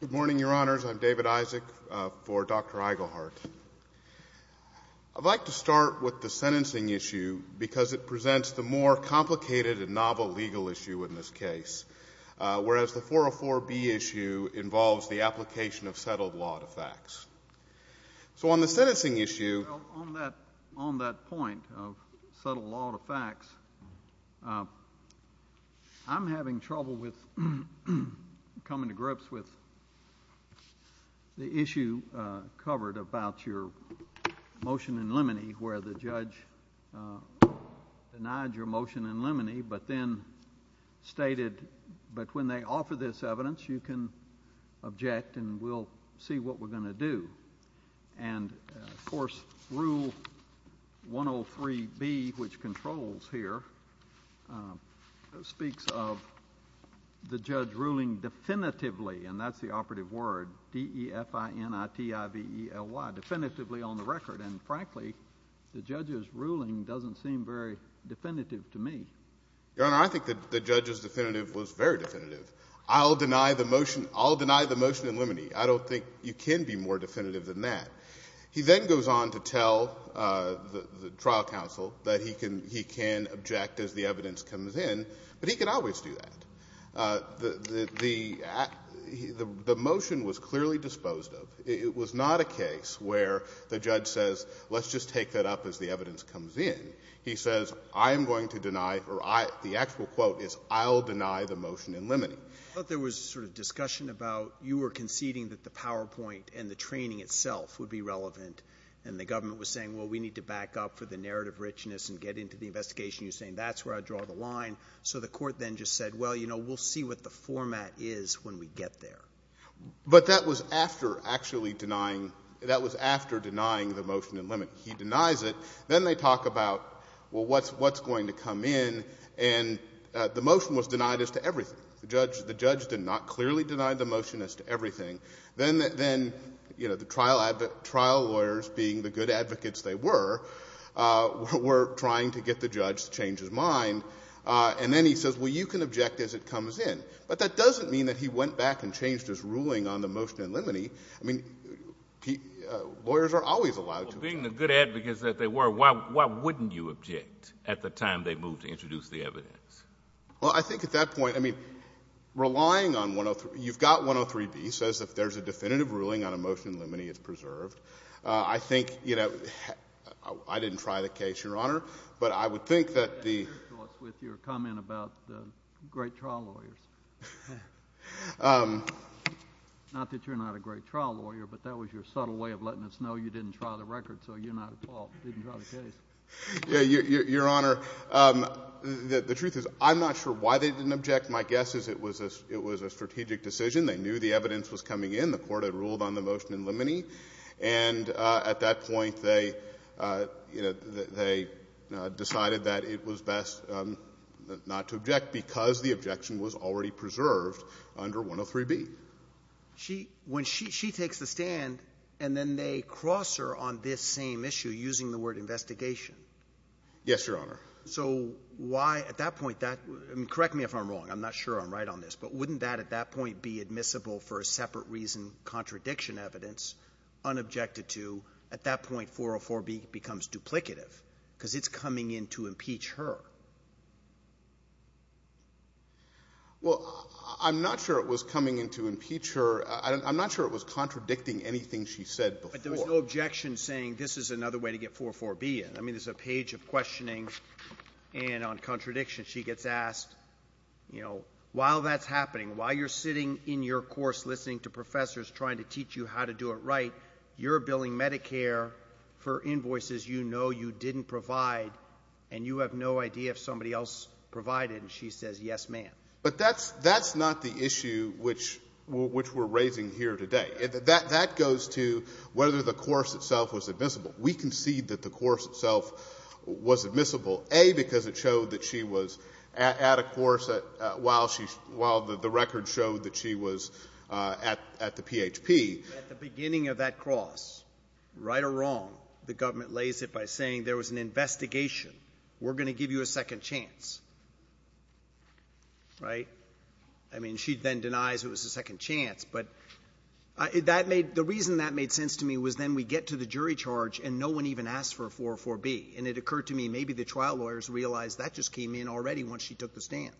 Good morning, Your Honors. I'm David Isaac. For the record, I'm the Chief Justice of the I'd like to start with the sentencing issue because it presents the more complicated and novel legal issue in this case, whereas the 404B issue involves the application of settled law to facts. So on the sentencing issue— And of course, Rule 103B, which controls here, speaks of the judge ruling definitively—and that's the operative word, D-E-F-I-N-I-T-I-V-E-L-Y—definitively on the record. And frankly, the judge's ruling doesn't seem very definitive to me. Your Honor, I think the judge's definitive was very definitive. I'll deny the motion in limine. I don't think you can be more definitive than that. He then goes on to tell the trial counsel that he can object as the evidence comes in, but he can always do that. The motion was clearly disposed of. It was not a case where the judge says, let's just take that up as the evidence comes in. He says, I am going to deny—or the actual quote is, I'll deny the motion in limine. I thought there was a sort of discussion about you were conceding that the PowerPoint and the training itself would be relevant, and the government was saying, well, we need to back up for the narrative richness and get into the investigation. You're saying that's where I draw the line. So the Court then just said, well, you know, we'll see what the format is when we get there. But that was after actually denying — that was after denying the motion in limine. He denies it. Then they talk about, well, what's going to come in? And the motion was denied as to everything. The judge did not clearly deny the motion as to everything. Then, you know, the trial lawyers, being the good advocates they were, were trying to get the judge to change his mind. And then he says, well, you can object as it comes in. But that doesn't mean that he went back and changed his ruling on the motion in limine. I mean, lawyers are always allowed to— Well, being the good advocates that they were, why wouldn't you object at the time they moved to introduce the evidence? Well, I think at that point, I mean, relying on — you've got 103B. It says if there's a definitive ruling on a motion in limine, it's preserved. I think, you know, I didn't try the case, Your Honor. But I would think that the— I agree with your comment about the great trial lawyers. Not that you're not a great trial lawyer, but that was your subtle way of letting us know you didn't try the record, so you're not at fault, didn't try the case. Your Honor, the truth is I'm not sure why they didn't object. My guess is it was a strategic decision. They knew the evidence was coming in. The Court had ruled on the motion in limine. And at that point, they decided that it was best not to object because the objection was already preserved under 103B. When she takes the stand and then they cross her on this same issue using the word investigation. Yes, Your Honor. So why at that point that — correct me if I'm wrong. I'm not sure I'm right on this. But wouldn't that at that point be admissible for a separate reason, contradiction evidence, unobjected to? At that point, 404B becomes duplicative because it's coming in to impeach her. Well, I'm not sure it was coming in to impeach her. I'm not sure it was contradicting anything she said before. But there was no objection saying this is another way to get 404B in. I mean, there's a page of questioning and on contradiction. She gets asked, you know, while that's happening, while you're sitting in your course listening to professors trying to teach you how to do it right, you're billing Medicare for invoices you know you didn't provide and you have no idea if somebody else provided. And she says, yes, ma'am. But that's not the issue which we're raising here today. That goes to whether the course itself was admissible. We concede that the course itself was admissible, A, because it showed that she was at a course while the record showed that she was at the PHP. At the beginning of that cross, right or wrong, the government lays it by saying there was an investigation. We're going to give you a second chance. Right? I mean, she then denies it was a second chance. But that made the reason that made sense to me was then we get to the jury charge and no one even asked for 404B. And it occurred to me maybe the trial lawyers realized that just came in already once she took the stand.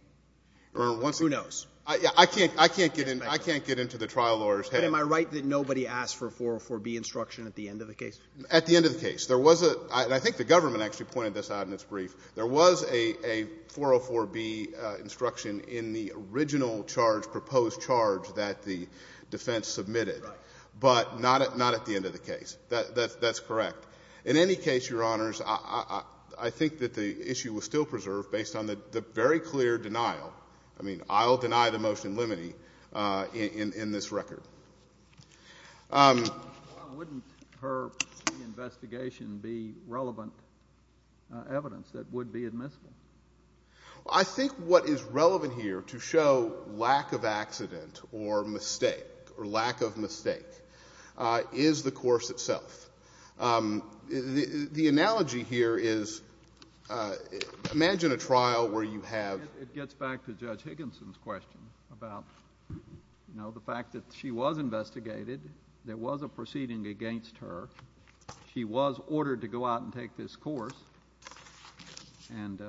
I can't get into the trial lawyer's head. But am I right that nobody asked for 404B instruction at the end of the case? At the end of the case. There was a – and I think the government actually pointed this out in its brief. There was a 404B instruction in the original charge, proposed charge that the defense submitted. Right. But not at the end of the case. That's correct. In any case, Your Honors, I think that the issue was still preserved based on the very clear denial. I mean, I'll deny the motion in limine in this record. Why wouldn't her investigation be relevant evidence that would be admissible? I think what is relevant here to show lack of accident or mistake or lack of mistake is the course itself. The analogy here is imagine a trial where you have – It gets back to Judge Higginson's question about, you know, the fact that she was investigated. There was a proceeding against her. She was ordered to go out and take this course. And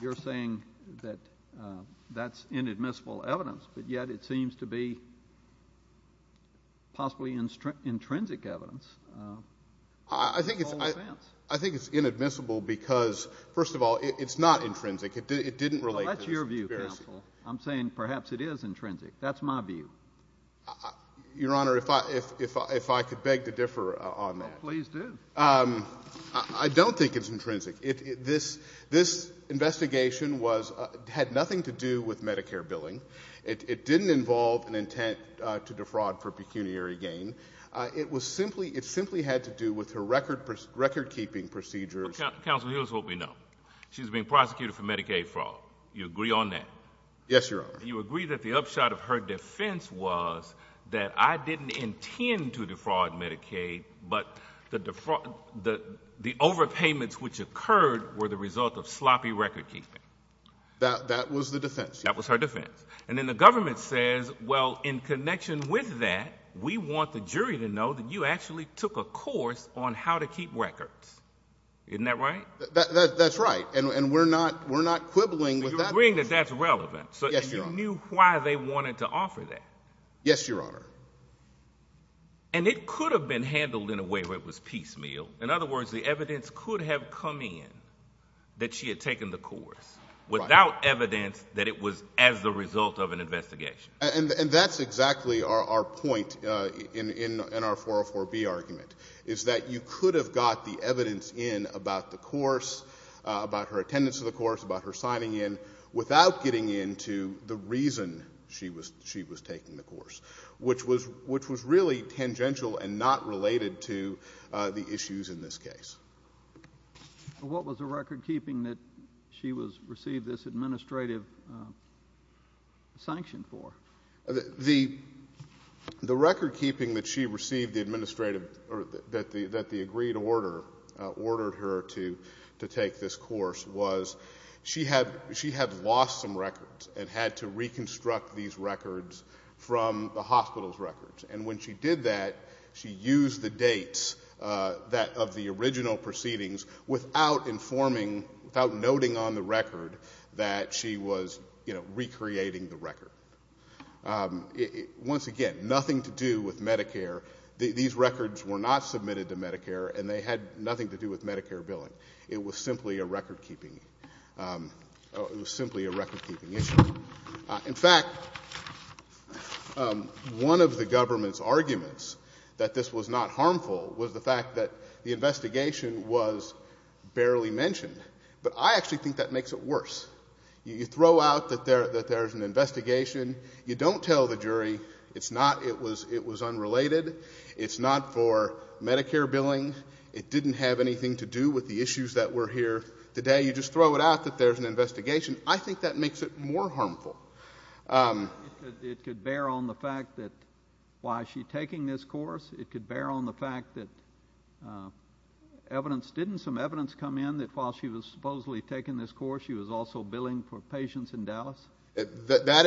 you're saying that that's inadmissible evidence, but yet it seems to be possibly intrinsic evidence. I think it's inadmissible because, first of all, it's not intrinsic. It didn't relate to this. Well, that's your view, counsel. I'm saying perhaps it is intrinsic. That's my view. Your Honor, if I could beg to differ on that. Please do. I don't think it's intrinsic. This investigation had nothing to do with Medicare billing. It didn't involve an intent to defraud for pecuniary gain. It simply had to do with her recordkeeping procedures. Counsel, here's what we know. She was being prosecuted for Medicaid fraud. You agree on that? Yes, Your Honor. You agree that the upshot of her defense was that I didn't intend to defraud Medicaid, but the overpayments which occurred were the result of sloppy recordkeeping. That was the defense. That was her defense. And then the government says, well, in connection with that, we want the jury to know that you actually took a course on how to keep records. Isn't that right? That's right. And we're not quibbling with that. So you're agreeing that that's relevant. Yes, Your Honor. And you knew why they wanted to offer that. Yes, Your Honor. And it could have been handled in a way where it was piecemeal. In other words, the evidence could have come in that she had taken the course without evidence that it was as a result of an investigation. And that's exactly our point in our 404B argument, is that you could have got the evidence in about the course, about her attendance to the course, about her signing in, without getting into the reason she was taking the course, which was really tangential and not related to the issues in this case. What was the recordkeeping that she received this administrative sanction for? The recordkeeping that she received the administrative or that the agreed order ordered her to take this course was she had lost some records and had to reconstruct these records from the hospital's records. And when she did that, she used the dates of the original proceedings without informing, without noting on the record that she was, you know, recreating the record. Once again, nothing to do with Medicare. These records were not submitted to Medicare, and they had nothing to do with Medicare billing. It was simply a recordkeeping issue. In fact, one of the government's arguments that this was not harmful was the fact that the investigation was barely mentioned. But I actually think that makes it worse. You throw out that there's an investigation. You don't tell the jury it was unrelated, it's not for Medicare billing, it didn't have anything to do with the issues that were here today. You just throw it out that there's an investigation. I think that makes it more harmful. It could bear on the fact that why is she taking this course. It could bear on the fact that evidence — didn't some evidence come in that while she was supposedly taking this course, she was also billing for patients in Dallas? That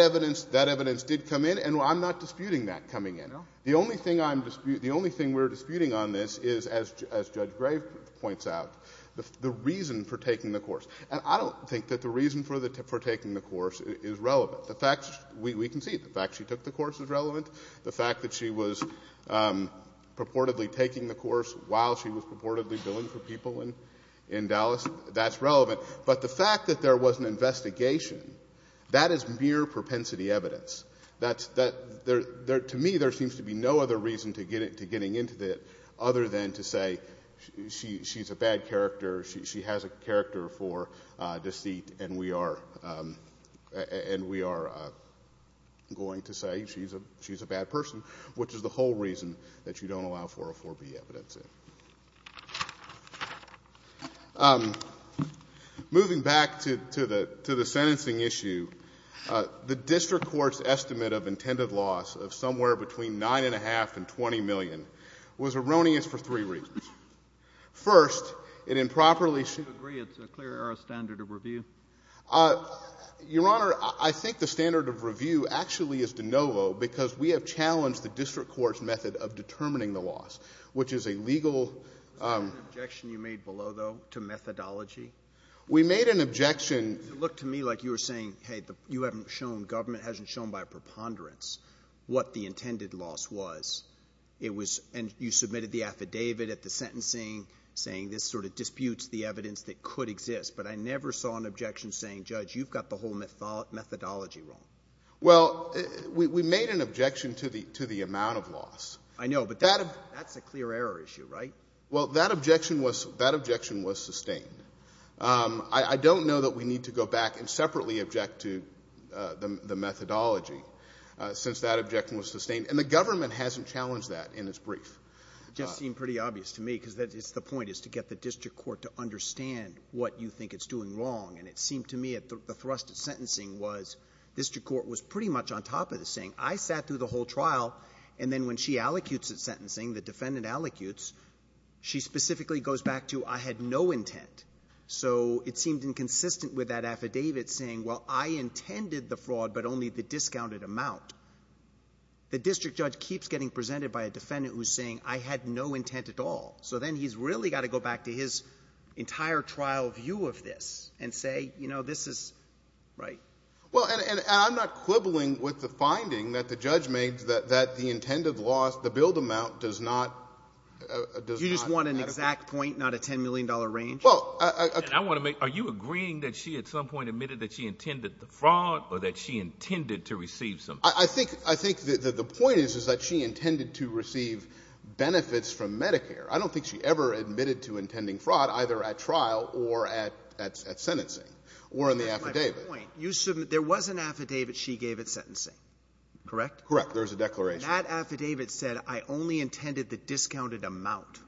evidence did come in, and I'm not disputing that coming in. No? The only thing I'm — the only thing we're disputing on this is, as Judge Grave points out, the reason for taking the course. And I don't think that the reason for taking the course is relevant. The fact — we can see it. The fact she took the course is relevant. The fact that she was purportedly taking the course while she was purportedly billing for people in Dallas, that's relevant. But the fact that there was an investigation, that is mere propensity evidence. That's — to me, there seems to be no other reason to getting into it other than to say she's a bad character, she has a character for deceit, and we are going to say she's a bad person, which is the whole reason that you don't allow 404B evidence in. Moving back to the sentencing issue, the district court's estimate of intended loss of somewhere between $9.5 and $20 million was erroneous for three reasons. First, it improperly — Do you agree it's a clear or a standard of review? Your Honor, I think the standard of review actually is de novo because we have challenged the district court's method of determining the loss, which is a legal — Was that an objection you made below, though, to methodology? We made an objection — It looked to me like you were saying, hey, you haven't shown — government hasn't shown by preponderance what the intended loss was. And you submitted the affidavit at the sentencing saying this sort of disputes the evidence that could exist, but I never saw an objection saying, Judge, you've got the whole methodology wrong. Well, we made an objection to the amount of loss. I know, but that's a clear error issue, right? Well, that objection was sustained. I don't know that we need to go back and separately object to the methodology since that objection was sustained. And the government hasn't challenged that in its brief. It just seemed pretty obvious to me because it's the point, is to get the district court to understand what you think it's doing wrong. And it seemed to me the thrust at sentencing was district court was pretty much on top of this, saying I sat through the whole trial, and then when she allocutes its sentencing, the defendant allocutes, she specifically goes back to I had no intent. So it seemed inconsistent with that affidavit saying, well, I intended the fraud, but only the discounted amount. The district judge keeps getting presented by a defendant who's saying I had no intent at all. So then he's really got to go back to his entire trial view of this and say, you know, this is right. Well, and I'm not quibbling with the finding that the judge made that the intended loss, the billed amount does not have to be. You just want an exact point, not a $10 million range? Well, I want to make, are you agreeing that she at some point admitted that she intended the fraud or that she intended to receive something? I think the point is, is that she intended to receive benefits from Medicare. I don't think she ever admitted to intending fraud, either at trial or at sentencing or in the affidavit. That's my point. There was an affidavit she gave at sentencing, correct? Correct. There was a declaration. That affidavit said I only intended the discounted amount.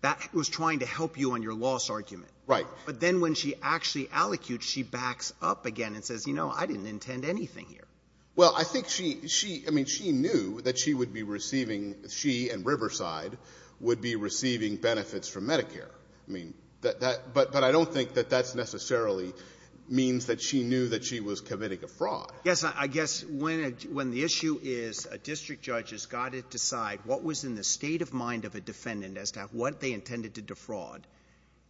That was trying to help you on your loss argument. Right. But then when she actually allocutes, she backs up again and says, you know, I didn't intend anything here. Well, I think she, I mean, she knew that she would be receiving, she and Riverside would be receiving benefits from Medicare. I mean, but I don't think that that necessarily means that she knew that she was committing a fraud. Yes. I guess when the issue is a district judge has got to decide what was in the state of mind of a defendant as to what they intended to defraud,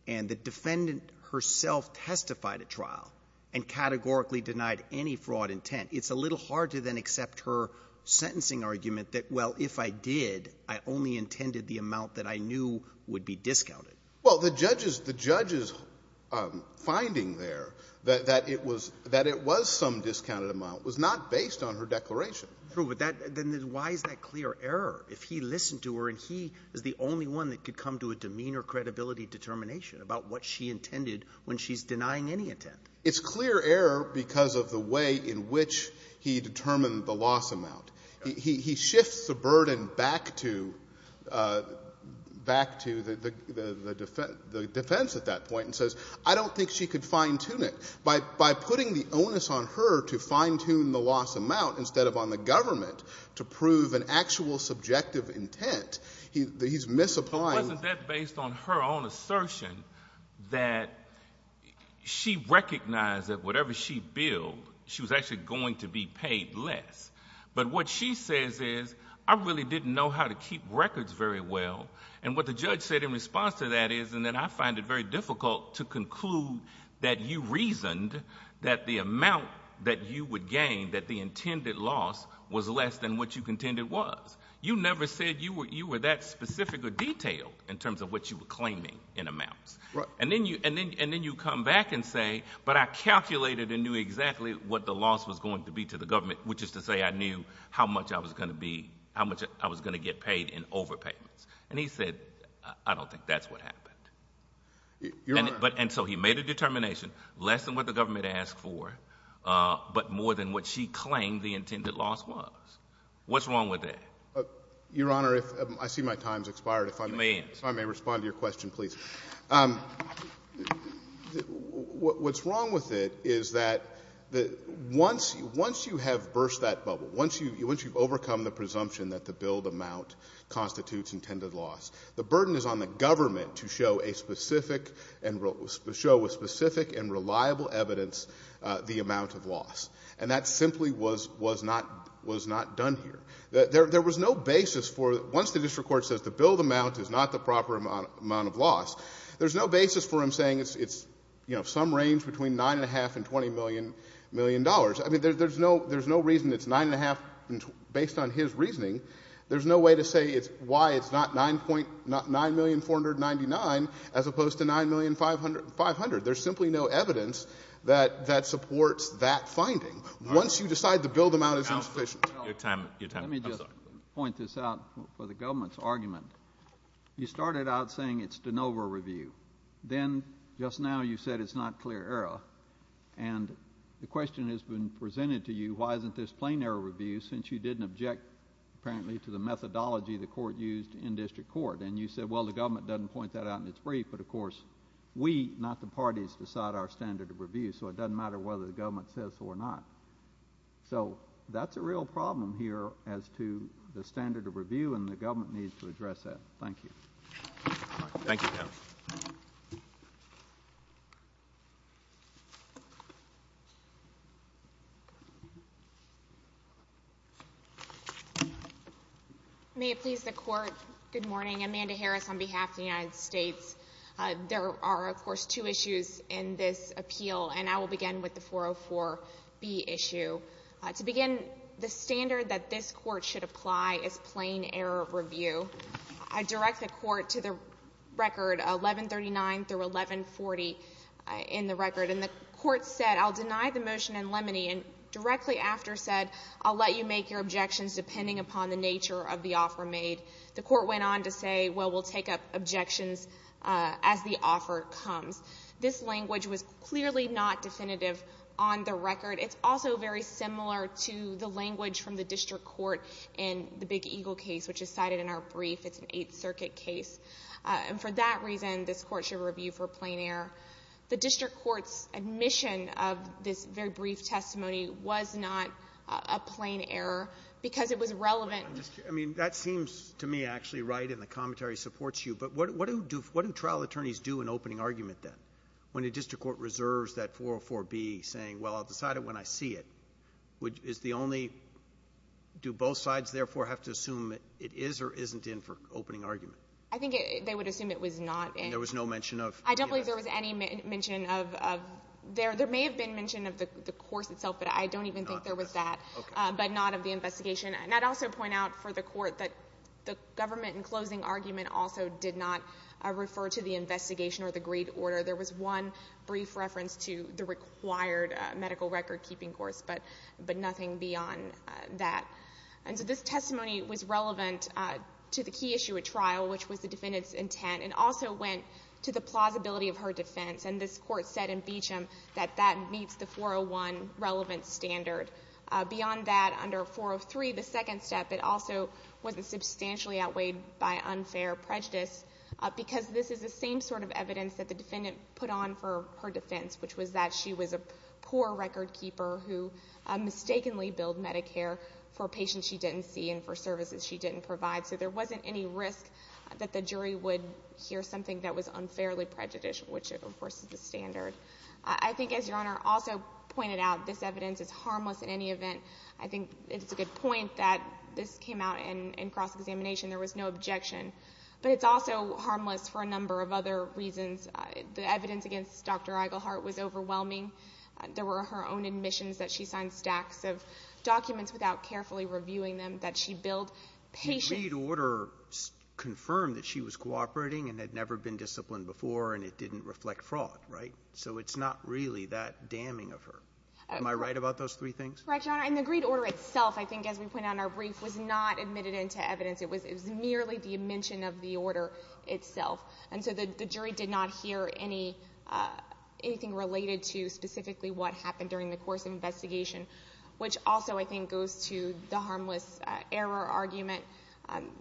and the defendant herself testified at trial and categorically denied any fraud intent, it's a little hard to then accept her sentencing argument that, well, if I did, I only intended the amount that I knew would be discounted. Well, the judge's finding there that it was some discounted amount was not based on her declaration. True. But then why is that clear error? If he listened to her and he is the only one that could come to a demeanor credibility determination about what she intended when she's denying any intent. It's clear error because of the way in which he determined the loss amount. He shifts the burden back to the defense at that point and says, I don't think she could fine-tune it. By putting the onus on her to fine-tune the loss amount instead of on the government to prove an actual subjective intent, he's misapplying. Wasn't that based on her own assertion that she recognized that whatever she billed, she was actually going to be paid less? But what she says is, I really didn't know how to keep records very well. What the judge said in response to that is, and then I find it very difficult to conclude that you reasoned that the amount that you would gain, that the intended loss was less than what you contended was. You never said you were that specific or detailed in terms of what you were claiming in amounts. Then you come back and say, but I calculated and knew exactly what the loss was going to be to the government, which is to say I knew how much I was going to get paid in overpayments. He said, I don't think that's what happened. You're right. He made a determination less than what the government asked for, but more than what she claimed the intended loss was. What's wrong with that? Your Honor, I see my time has expired. You may. If I may respond to your question, please. What's wrong with it is that once you have burst that bubble, once you've overcome the presumption that the billed amount constitutes intended loss, the burden is on the government to show with specific and reliable evidence the amount of loss. And that simply was not done here. There was no basis for it. Once the district court says the billed amount is not the proper amount of loss, there's no basis for him saying it's some range between $9.5 and $20 million. I mean, there's no reason it's $9.5 based on his reasoning. There's no way to say why it's not $9,499,000 as opposed to $9,500,000. There's simply no evidence that supports that finding. Once you decide the billed amount is insufficient. Let me just point this out for the government's argument. You started out saying it's de novo review. Then just now you said it's not clear error. And the question has been presented to you, why isn't this plain error review since you didn't object apparently to the methodology the court used in district court. And you said, well, the government doesn't point that out in its brief. But, of course, we, not the parties, decide our standard of review. So it doesn't matter whether the government says so or not. So that's a real problem here as to the standard of review, and the government needs to address that. Thank you. Thank you, counsel. May it please the Court, good morning. I'm Amanda Harris on behalf of the United States. There are, of course, two issues in this appeal, and I will begin with the 404B issue. To begin, the standard that this court should apply is plain error review. I direct the court to the record 1139 through 1140 in the record. And the court said, I'll deny the motion in limine, and directly after said, I'll let you make your objections depending upon the nature of the offer made. The court went on to say, well, we'll take up objections as the offer comes. This language was clearly not definitive on the record. It's also very similar to the language from the district court in the Big Eagle case, which is cited in our brief. It's an Eighth Circuit case. And for that reason, this court should review for plain error. The district court's admission of this very brief testimony was not a plain error because it was relevant. I mean, that seems to me actually right, and the commentary supports you. But what do trial attorneys do in opening argument, then, when the district court reserves that 404B saying, well, I'll decide it when I see it? Is the only do both sides therefore have to assume it is or isn't in for opening argument? I think they would assume it was not in. And there was no mention of? I don't believe there was any mention of. There may have been mention of the course itself, but I don't even think there was that. Okay. But not of the investigation. And I'd also point out for the court that the government in closing argument also did not refer to the investigation or the grade order. There was one brief reference to the required medical record-keeping course, but nothing beyond that. And so this testimony was relevant to the key issue at trial, which was the defendant's intent, and also went to the plausibility of her defense. And this court said in Beecham that that meets the 401 relevant standard. Beyond that, under 403, the second step, it also wasn't substantially outweighed by unfair prejudice because this is the same sort of evidence that the defendant put on for her defense, which was that she was a poor record keeper who mistakenly billed Medicare for patients she didn't see and for services she didn't provide. So there wasn't any risk that the jury would hear something that was unfairly prejudicial, which, of course, is the standard. I think, as Your Honor also pointed out, this evidence is harmless in any event. I think it's a good point that this came out in cross-examination. There was no objection. But it's also harmless for a number of other reasons. The evidence against Dr. Iglehart was overwhelming. There were her own admissions that she signed stacks of documents without carefully reviewing them, that she billed patients. The grade order confirmed that she was cooperating and had never been disciplined before and it didn't reflect fraud, right? So it's not really that damning of her. Am I right about those three things? Correct, Your Honor. And the grade order itself, I think, as we pointed out in our brief, was not admitted into evidence. It was merely the mention of the order itself. And so the jury did not hear anything related to specifically what happened during the course of investigation, which also, I think, goes to the harmless error argument.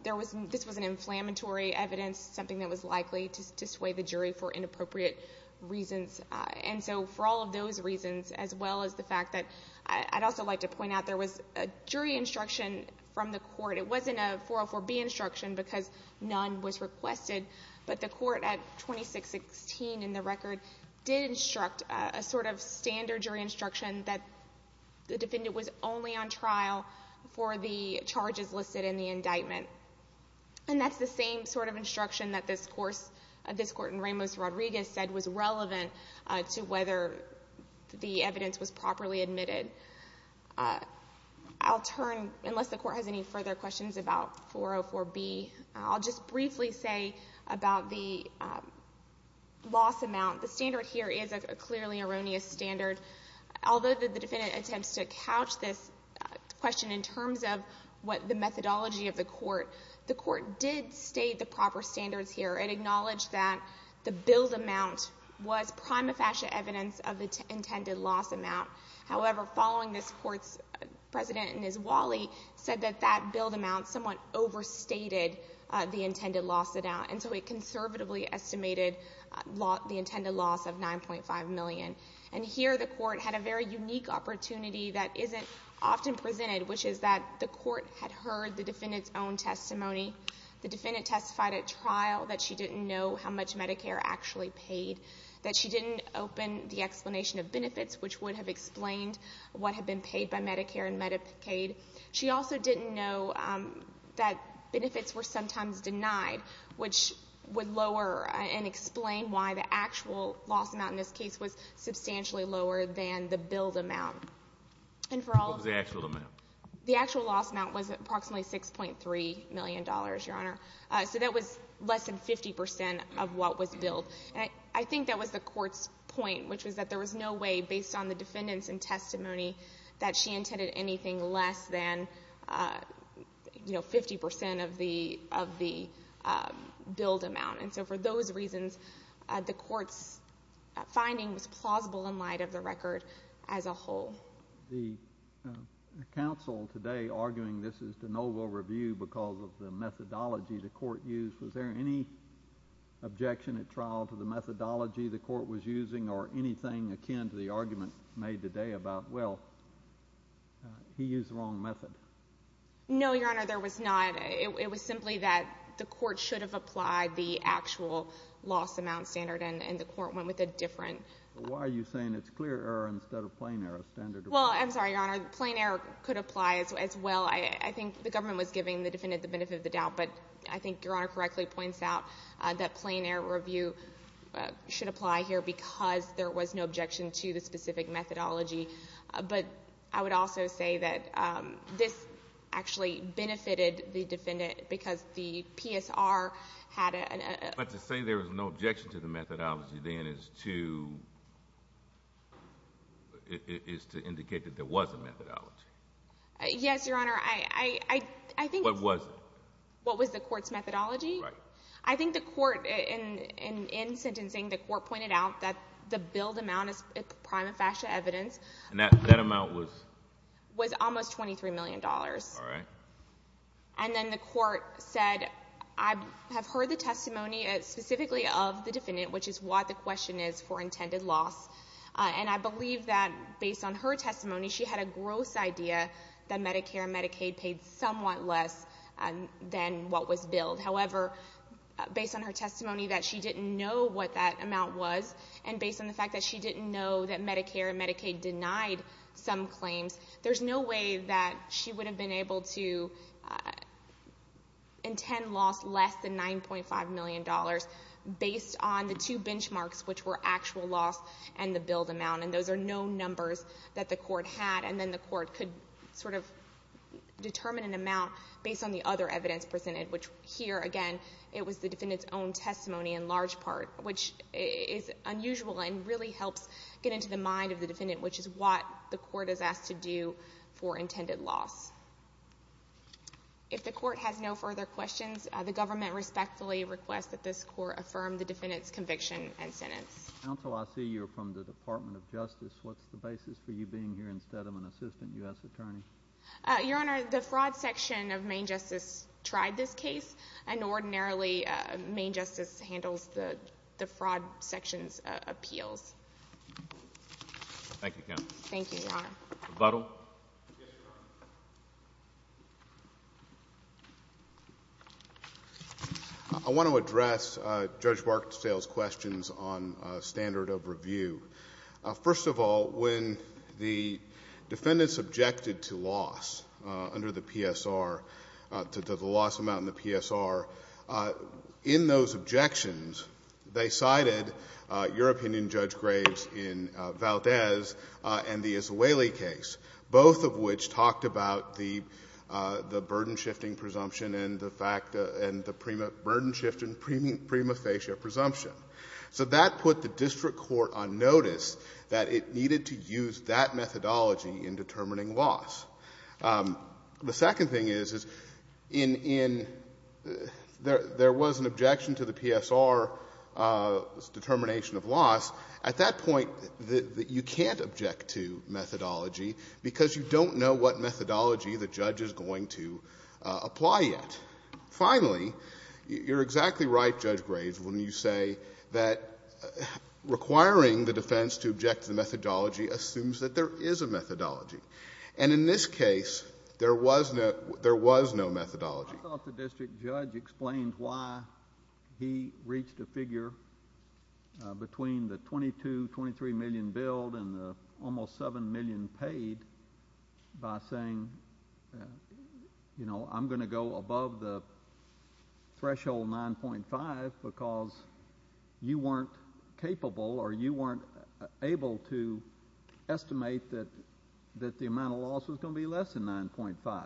This was an inflammatory evidence, something that was likely to sway the jury for inappropriate reasons. And so for all of those reasons, as well as the fact that I'd also like to point out, there was a jury instruction from the court. It wasn't a 404B instruction because none was requested, but the court at 2616 in the record did instruct a sort of standard jury instruction that the defendant was only on trial for the charges listed in the indictment. And that's the same sort of instruction that this court in Ramos-Rodriguez said was relevant to whether the evidence was properly admitted. I'll turn, unless the court has any further questions about 404B, I'll just briefly say about the loss amount. The standard here is a clearly erroneous standard. Although the defendant attempts to couch this question in terms of what the methodology of the court, the court did state the proper standards here. It acknowledged that the billed amount was prima facie evidence of the intended loss amount. However, following this, the court's president, Ms. Wally, said that that billed amount somewhat overstated the intended loss amount. And so it conservatively estimated the intended loss of $9.5 million. And here the court had a very unique opportunity that isn't often presented, which is that the court had heard the defendant's own testimony. The defendant testified at trial that she didn't know how much Medicare actually paid, that she didn't open the explanation of benefits, which would have explained what had been paid by Medicare and Medicaid. She also didn't know that benefits were sometimes denied, which would lower and explain why the actual loss amount in this case was substantially lower than the billed amount. What was the actual amount? The actual loss amount was approximately $6.3 million, Your Honor. So that was less than 50% of what was billed. I think that was the court's point, which was that there was no way based on the defendant's own testimony that she intended anything less than 50% of the billed amount. And so for those reasons, the court's finding was plausible in light of the record as a whole. The counsel today arguing this is de novo review because of the methodology the court used, was there any objection at trial to the methodology the court was using or anything akin to the argument made today about, well, he used the wrong method? No, Your Honor, there was not. It was simply that the court should have applied the actual loss amount standard, and the court went with a different. Why are you saying it's clear error instead of plain error standard? Well, I'm sorry, Your Honor. Plain error could apply as well. I think the government was giving the defendant the benefit of the doubt, but I think Your Honor correctly points out that plain error review should apply here because there was no objection to the specific methodology. But I would also say that this actually benefited the defendant because the PSR had a— But to say there was no objection to the methodology then is to indicate that there was a methodology. Yes, Your Honor. I think— What was it? What was the court's methodology? Right. I think the court, in sentencing, the court pointed out that the billed amount is prima facie evidence. And that amount was? Was almost $23 million. All right. And then the court said, I have heard the testimony specifically of the defendant, which is why the question is for intended loss. And I believe that based on her testimony, she had a gross idea that Medicare and Medicaid paid somewhat less than what was billed. However, based on her testimony that she didn't know what that amount was, and based on the fact that she didn't know that Medicare and Medicaid denied some claims, there's no way that she would have been able to intend loss less than $9.5 million based on the two benchmarks, which were actual loss and the billed amount. And those are known numbers that the court had. And then the court could sort of determine an amount based on the other evidence presented, which here, again, it was the defendant's own testimony in large part, which is unusual and really helps get into the mind of the defendant, which is what the court is asked to do for intended loss. If the court has no further questions, the government respectfully requests that this court affirm the defendant's conviction and sentence. Counsel, I see you're from the Department of Justice. What's the basis for you being here instead of an assistant U.S. attorney? Your Honor, the fraud section of Maine Justice tried this case, and ordinarily Maine Justice handles the fraud section's appeals. Thank you, counsel. Thank you, Your Honor. Rebuttal. Yes, Your Honor. I want to address Judge Barksdale's questions on standard of review. First of all, when the defendants objected to loss under the PSR, to the loss amount in the PSR, in those objections, they cited your opinion, Judge Graves, in Valdez and the Israeli case, both of which talked about the burden-shifting presumption and the burden-shifting prima facie presumption. So that put the district court on notice that it needed to use that methodology in determining loss. The second thing is, is in there was an objection to the PSR's determination of loss. At that point, you can't object to methodology because you don't know what methodology the judge is going to apply yet. Finally, you're exactly right, Judge Graves, when you say that requiring the defense to object to the methodology assumes that there is a methodology. And in this case, there was no methodology. I thought the district judge explained why he reached a figure between the $22-$23 million bill and the almost $7 million paid by saying, you know, I'm going to go above the threshold 9.5 because you weren't capable or you weren't able to estimate that the amount of loss was going to be less than 9.5.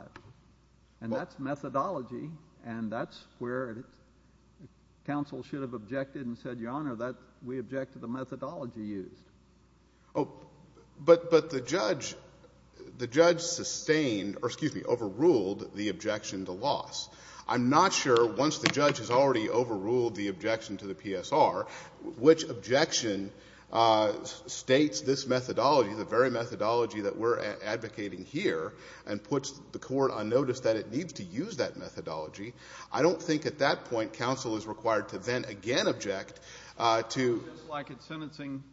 And that's methodology, and that's where counsel should have objected and said, Your Honor, we object to the methodology used. But the judge sustained or, excuse me, overruled the objection to loss. I'm not sure, once the judge has already overruled the objection to the PSR, which objection states this methodology, the very methodology that we're advocating here, and puts the court on notice that it needs to use that methodology. I don't think at that point counsel is required to then again object to. Just like at sentencing,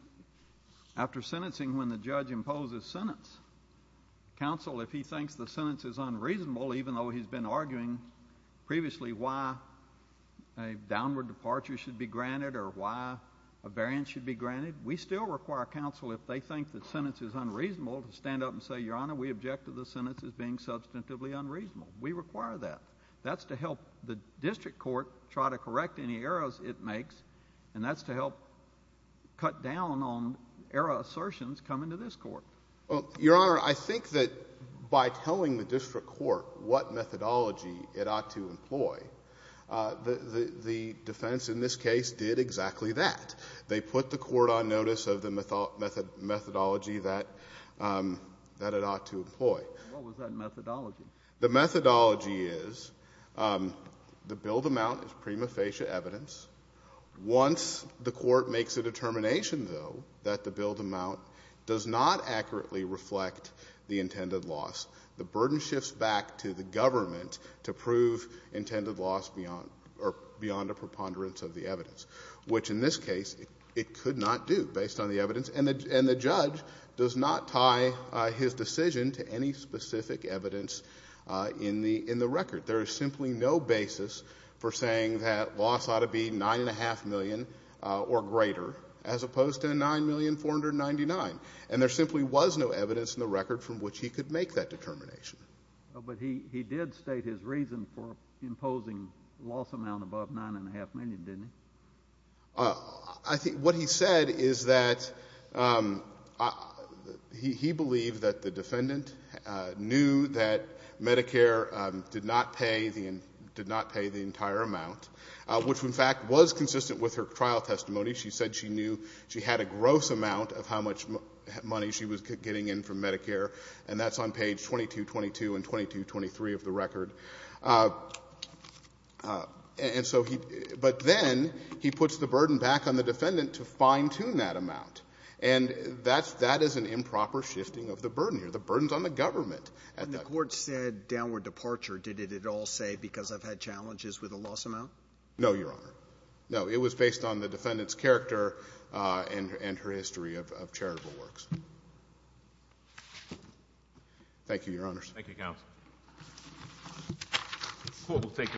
after sentencing, when the judge imposes sentence, counsel, if he thinks the sentence is unreasonable, even though he's been arguing previously why a downward departure should be granted or why a variance should be granted, we still require counsel, if they think the sentence is unreasonable, to stand up and say, Your Honor, we object to the sentence as being substantively unreasonable. We require that. That's to help the district court try to correct any errors it makes, and that's to help cut down on error assertions coming to this court. Your Honor, I think that by telling the district court what methodology it ought to employ, the defense in this case did exactly that. They put the court on notice of the methodology that it ought to employ. What was that methodology? The methodology is the billed amount is prima facie evidence. Once the court makes a determination, though, that the billed amount does not accurately reflect the intended loss, the burden shifts back to the government to prove intended loss beyond a preponderance of the evidence, which in this case it could not do based on the evidence, and the judge does not tie his decision to any specific evidence in the record. There is simply no basis for saying that loss ought to be $9.5 million or greater, as opposed to $9,499,000, and there simply was no evidence in the record from which he could make that determination. But he did state his reason for imposing loss amount above $9.5 million, didn't he? What he said is that he believed that the defendant knew that Medicare did not pay the entire amount, which in fact was consistent with her trial testimony. She said she knew she had a gross amount of how much money she was getting in from Medicare, and that's on page 2222 and 2223 of the record. But then he puts the burden back on the defendant to fine-tune that amount, and that is an improper shifting of the burden here. The burden is on the government. And the court said downward departure. Did it at all say because I've had challenges with the loss amount? No, Your Honor. No. It was based on the defendant's character and her history of charitable works. Thank you, Your Honors. Thank you, counsel. The court will take it.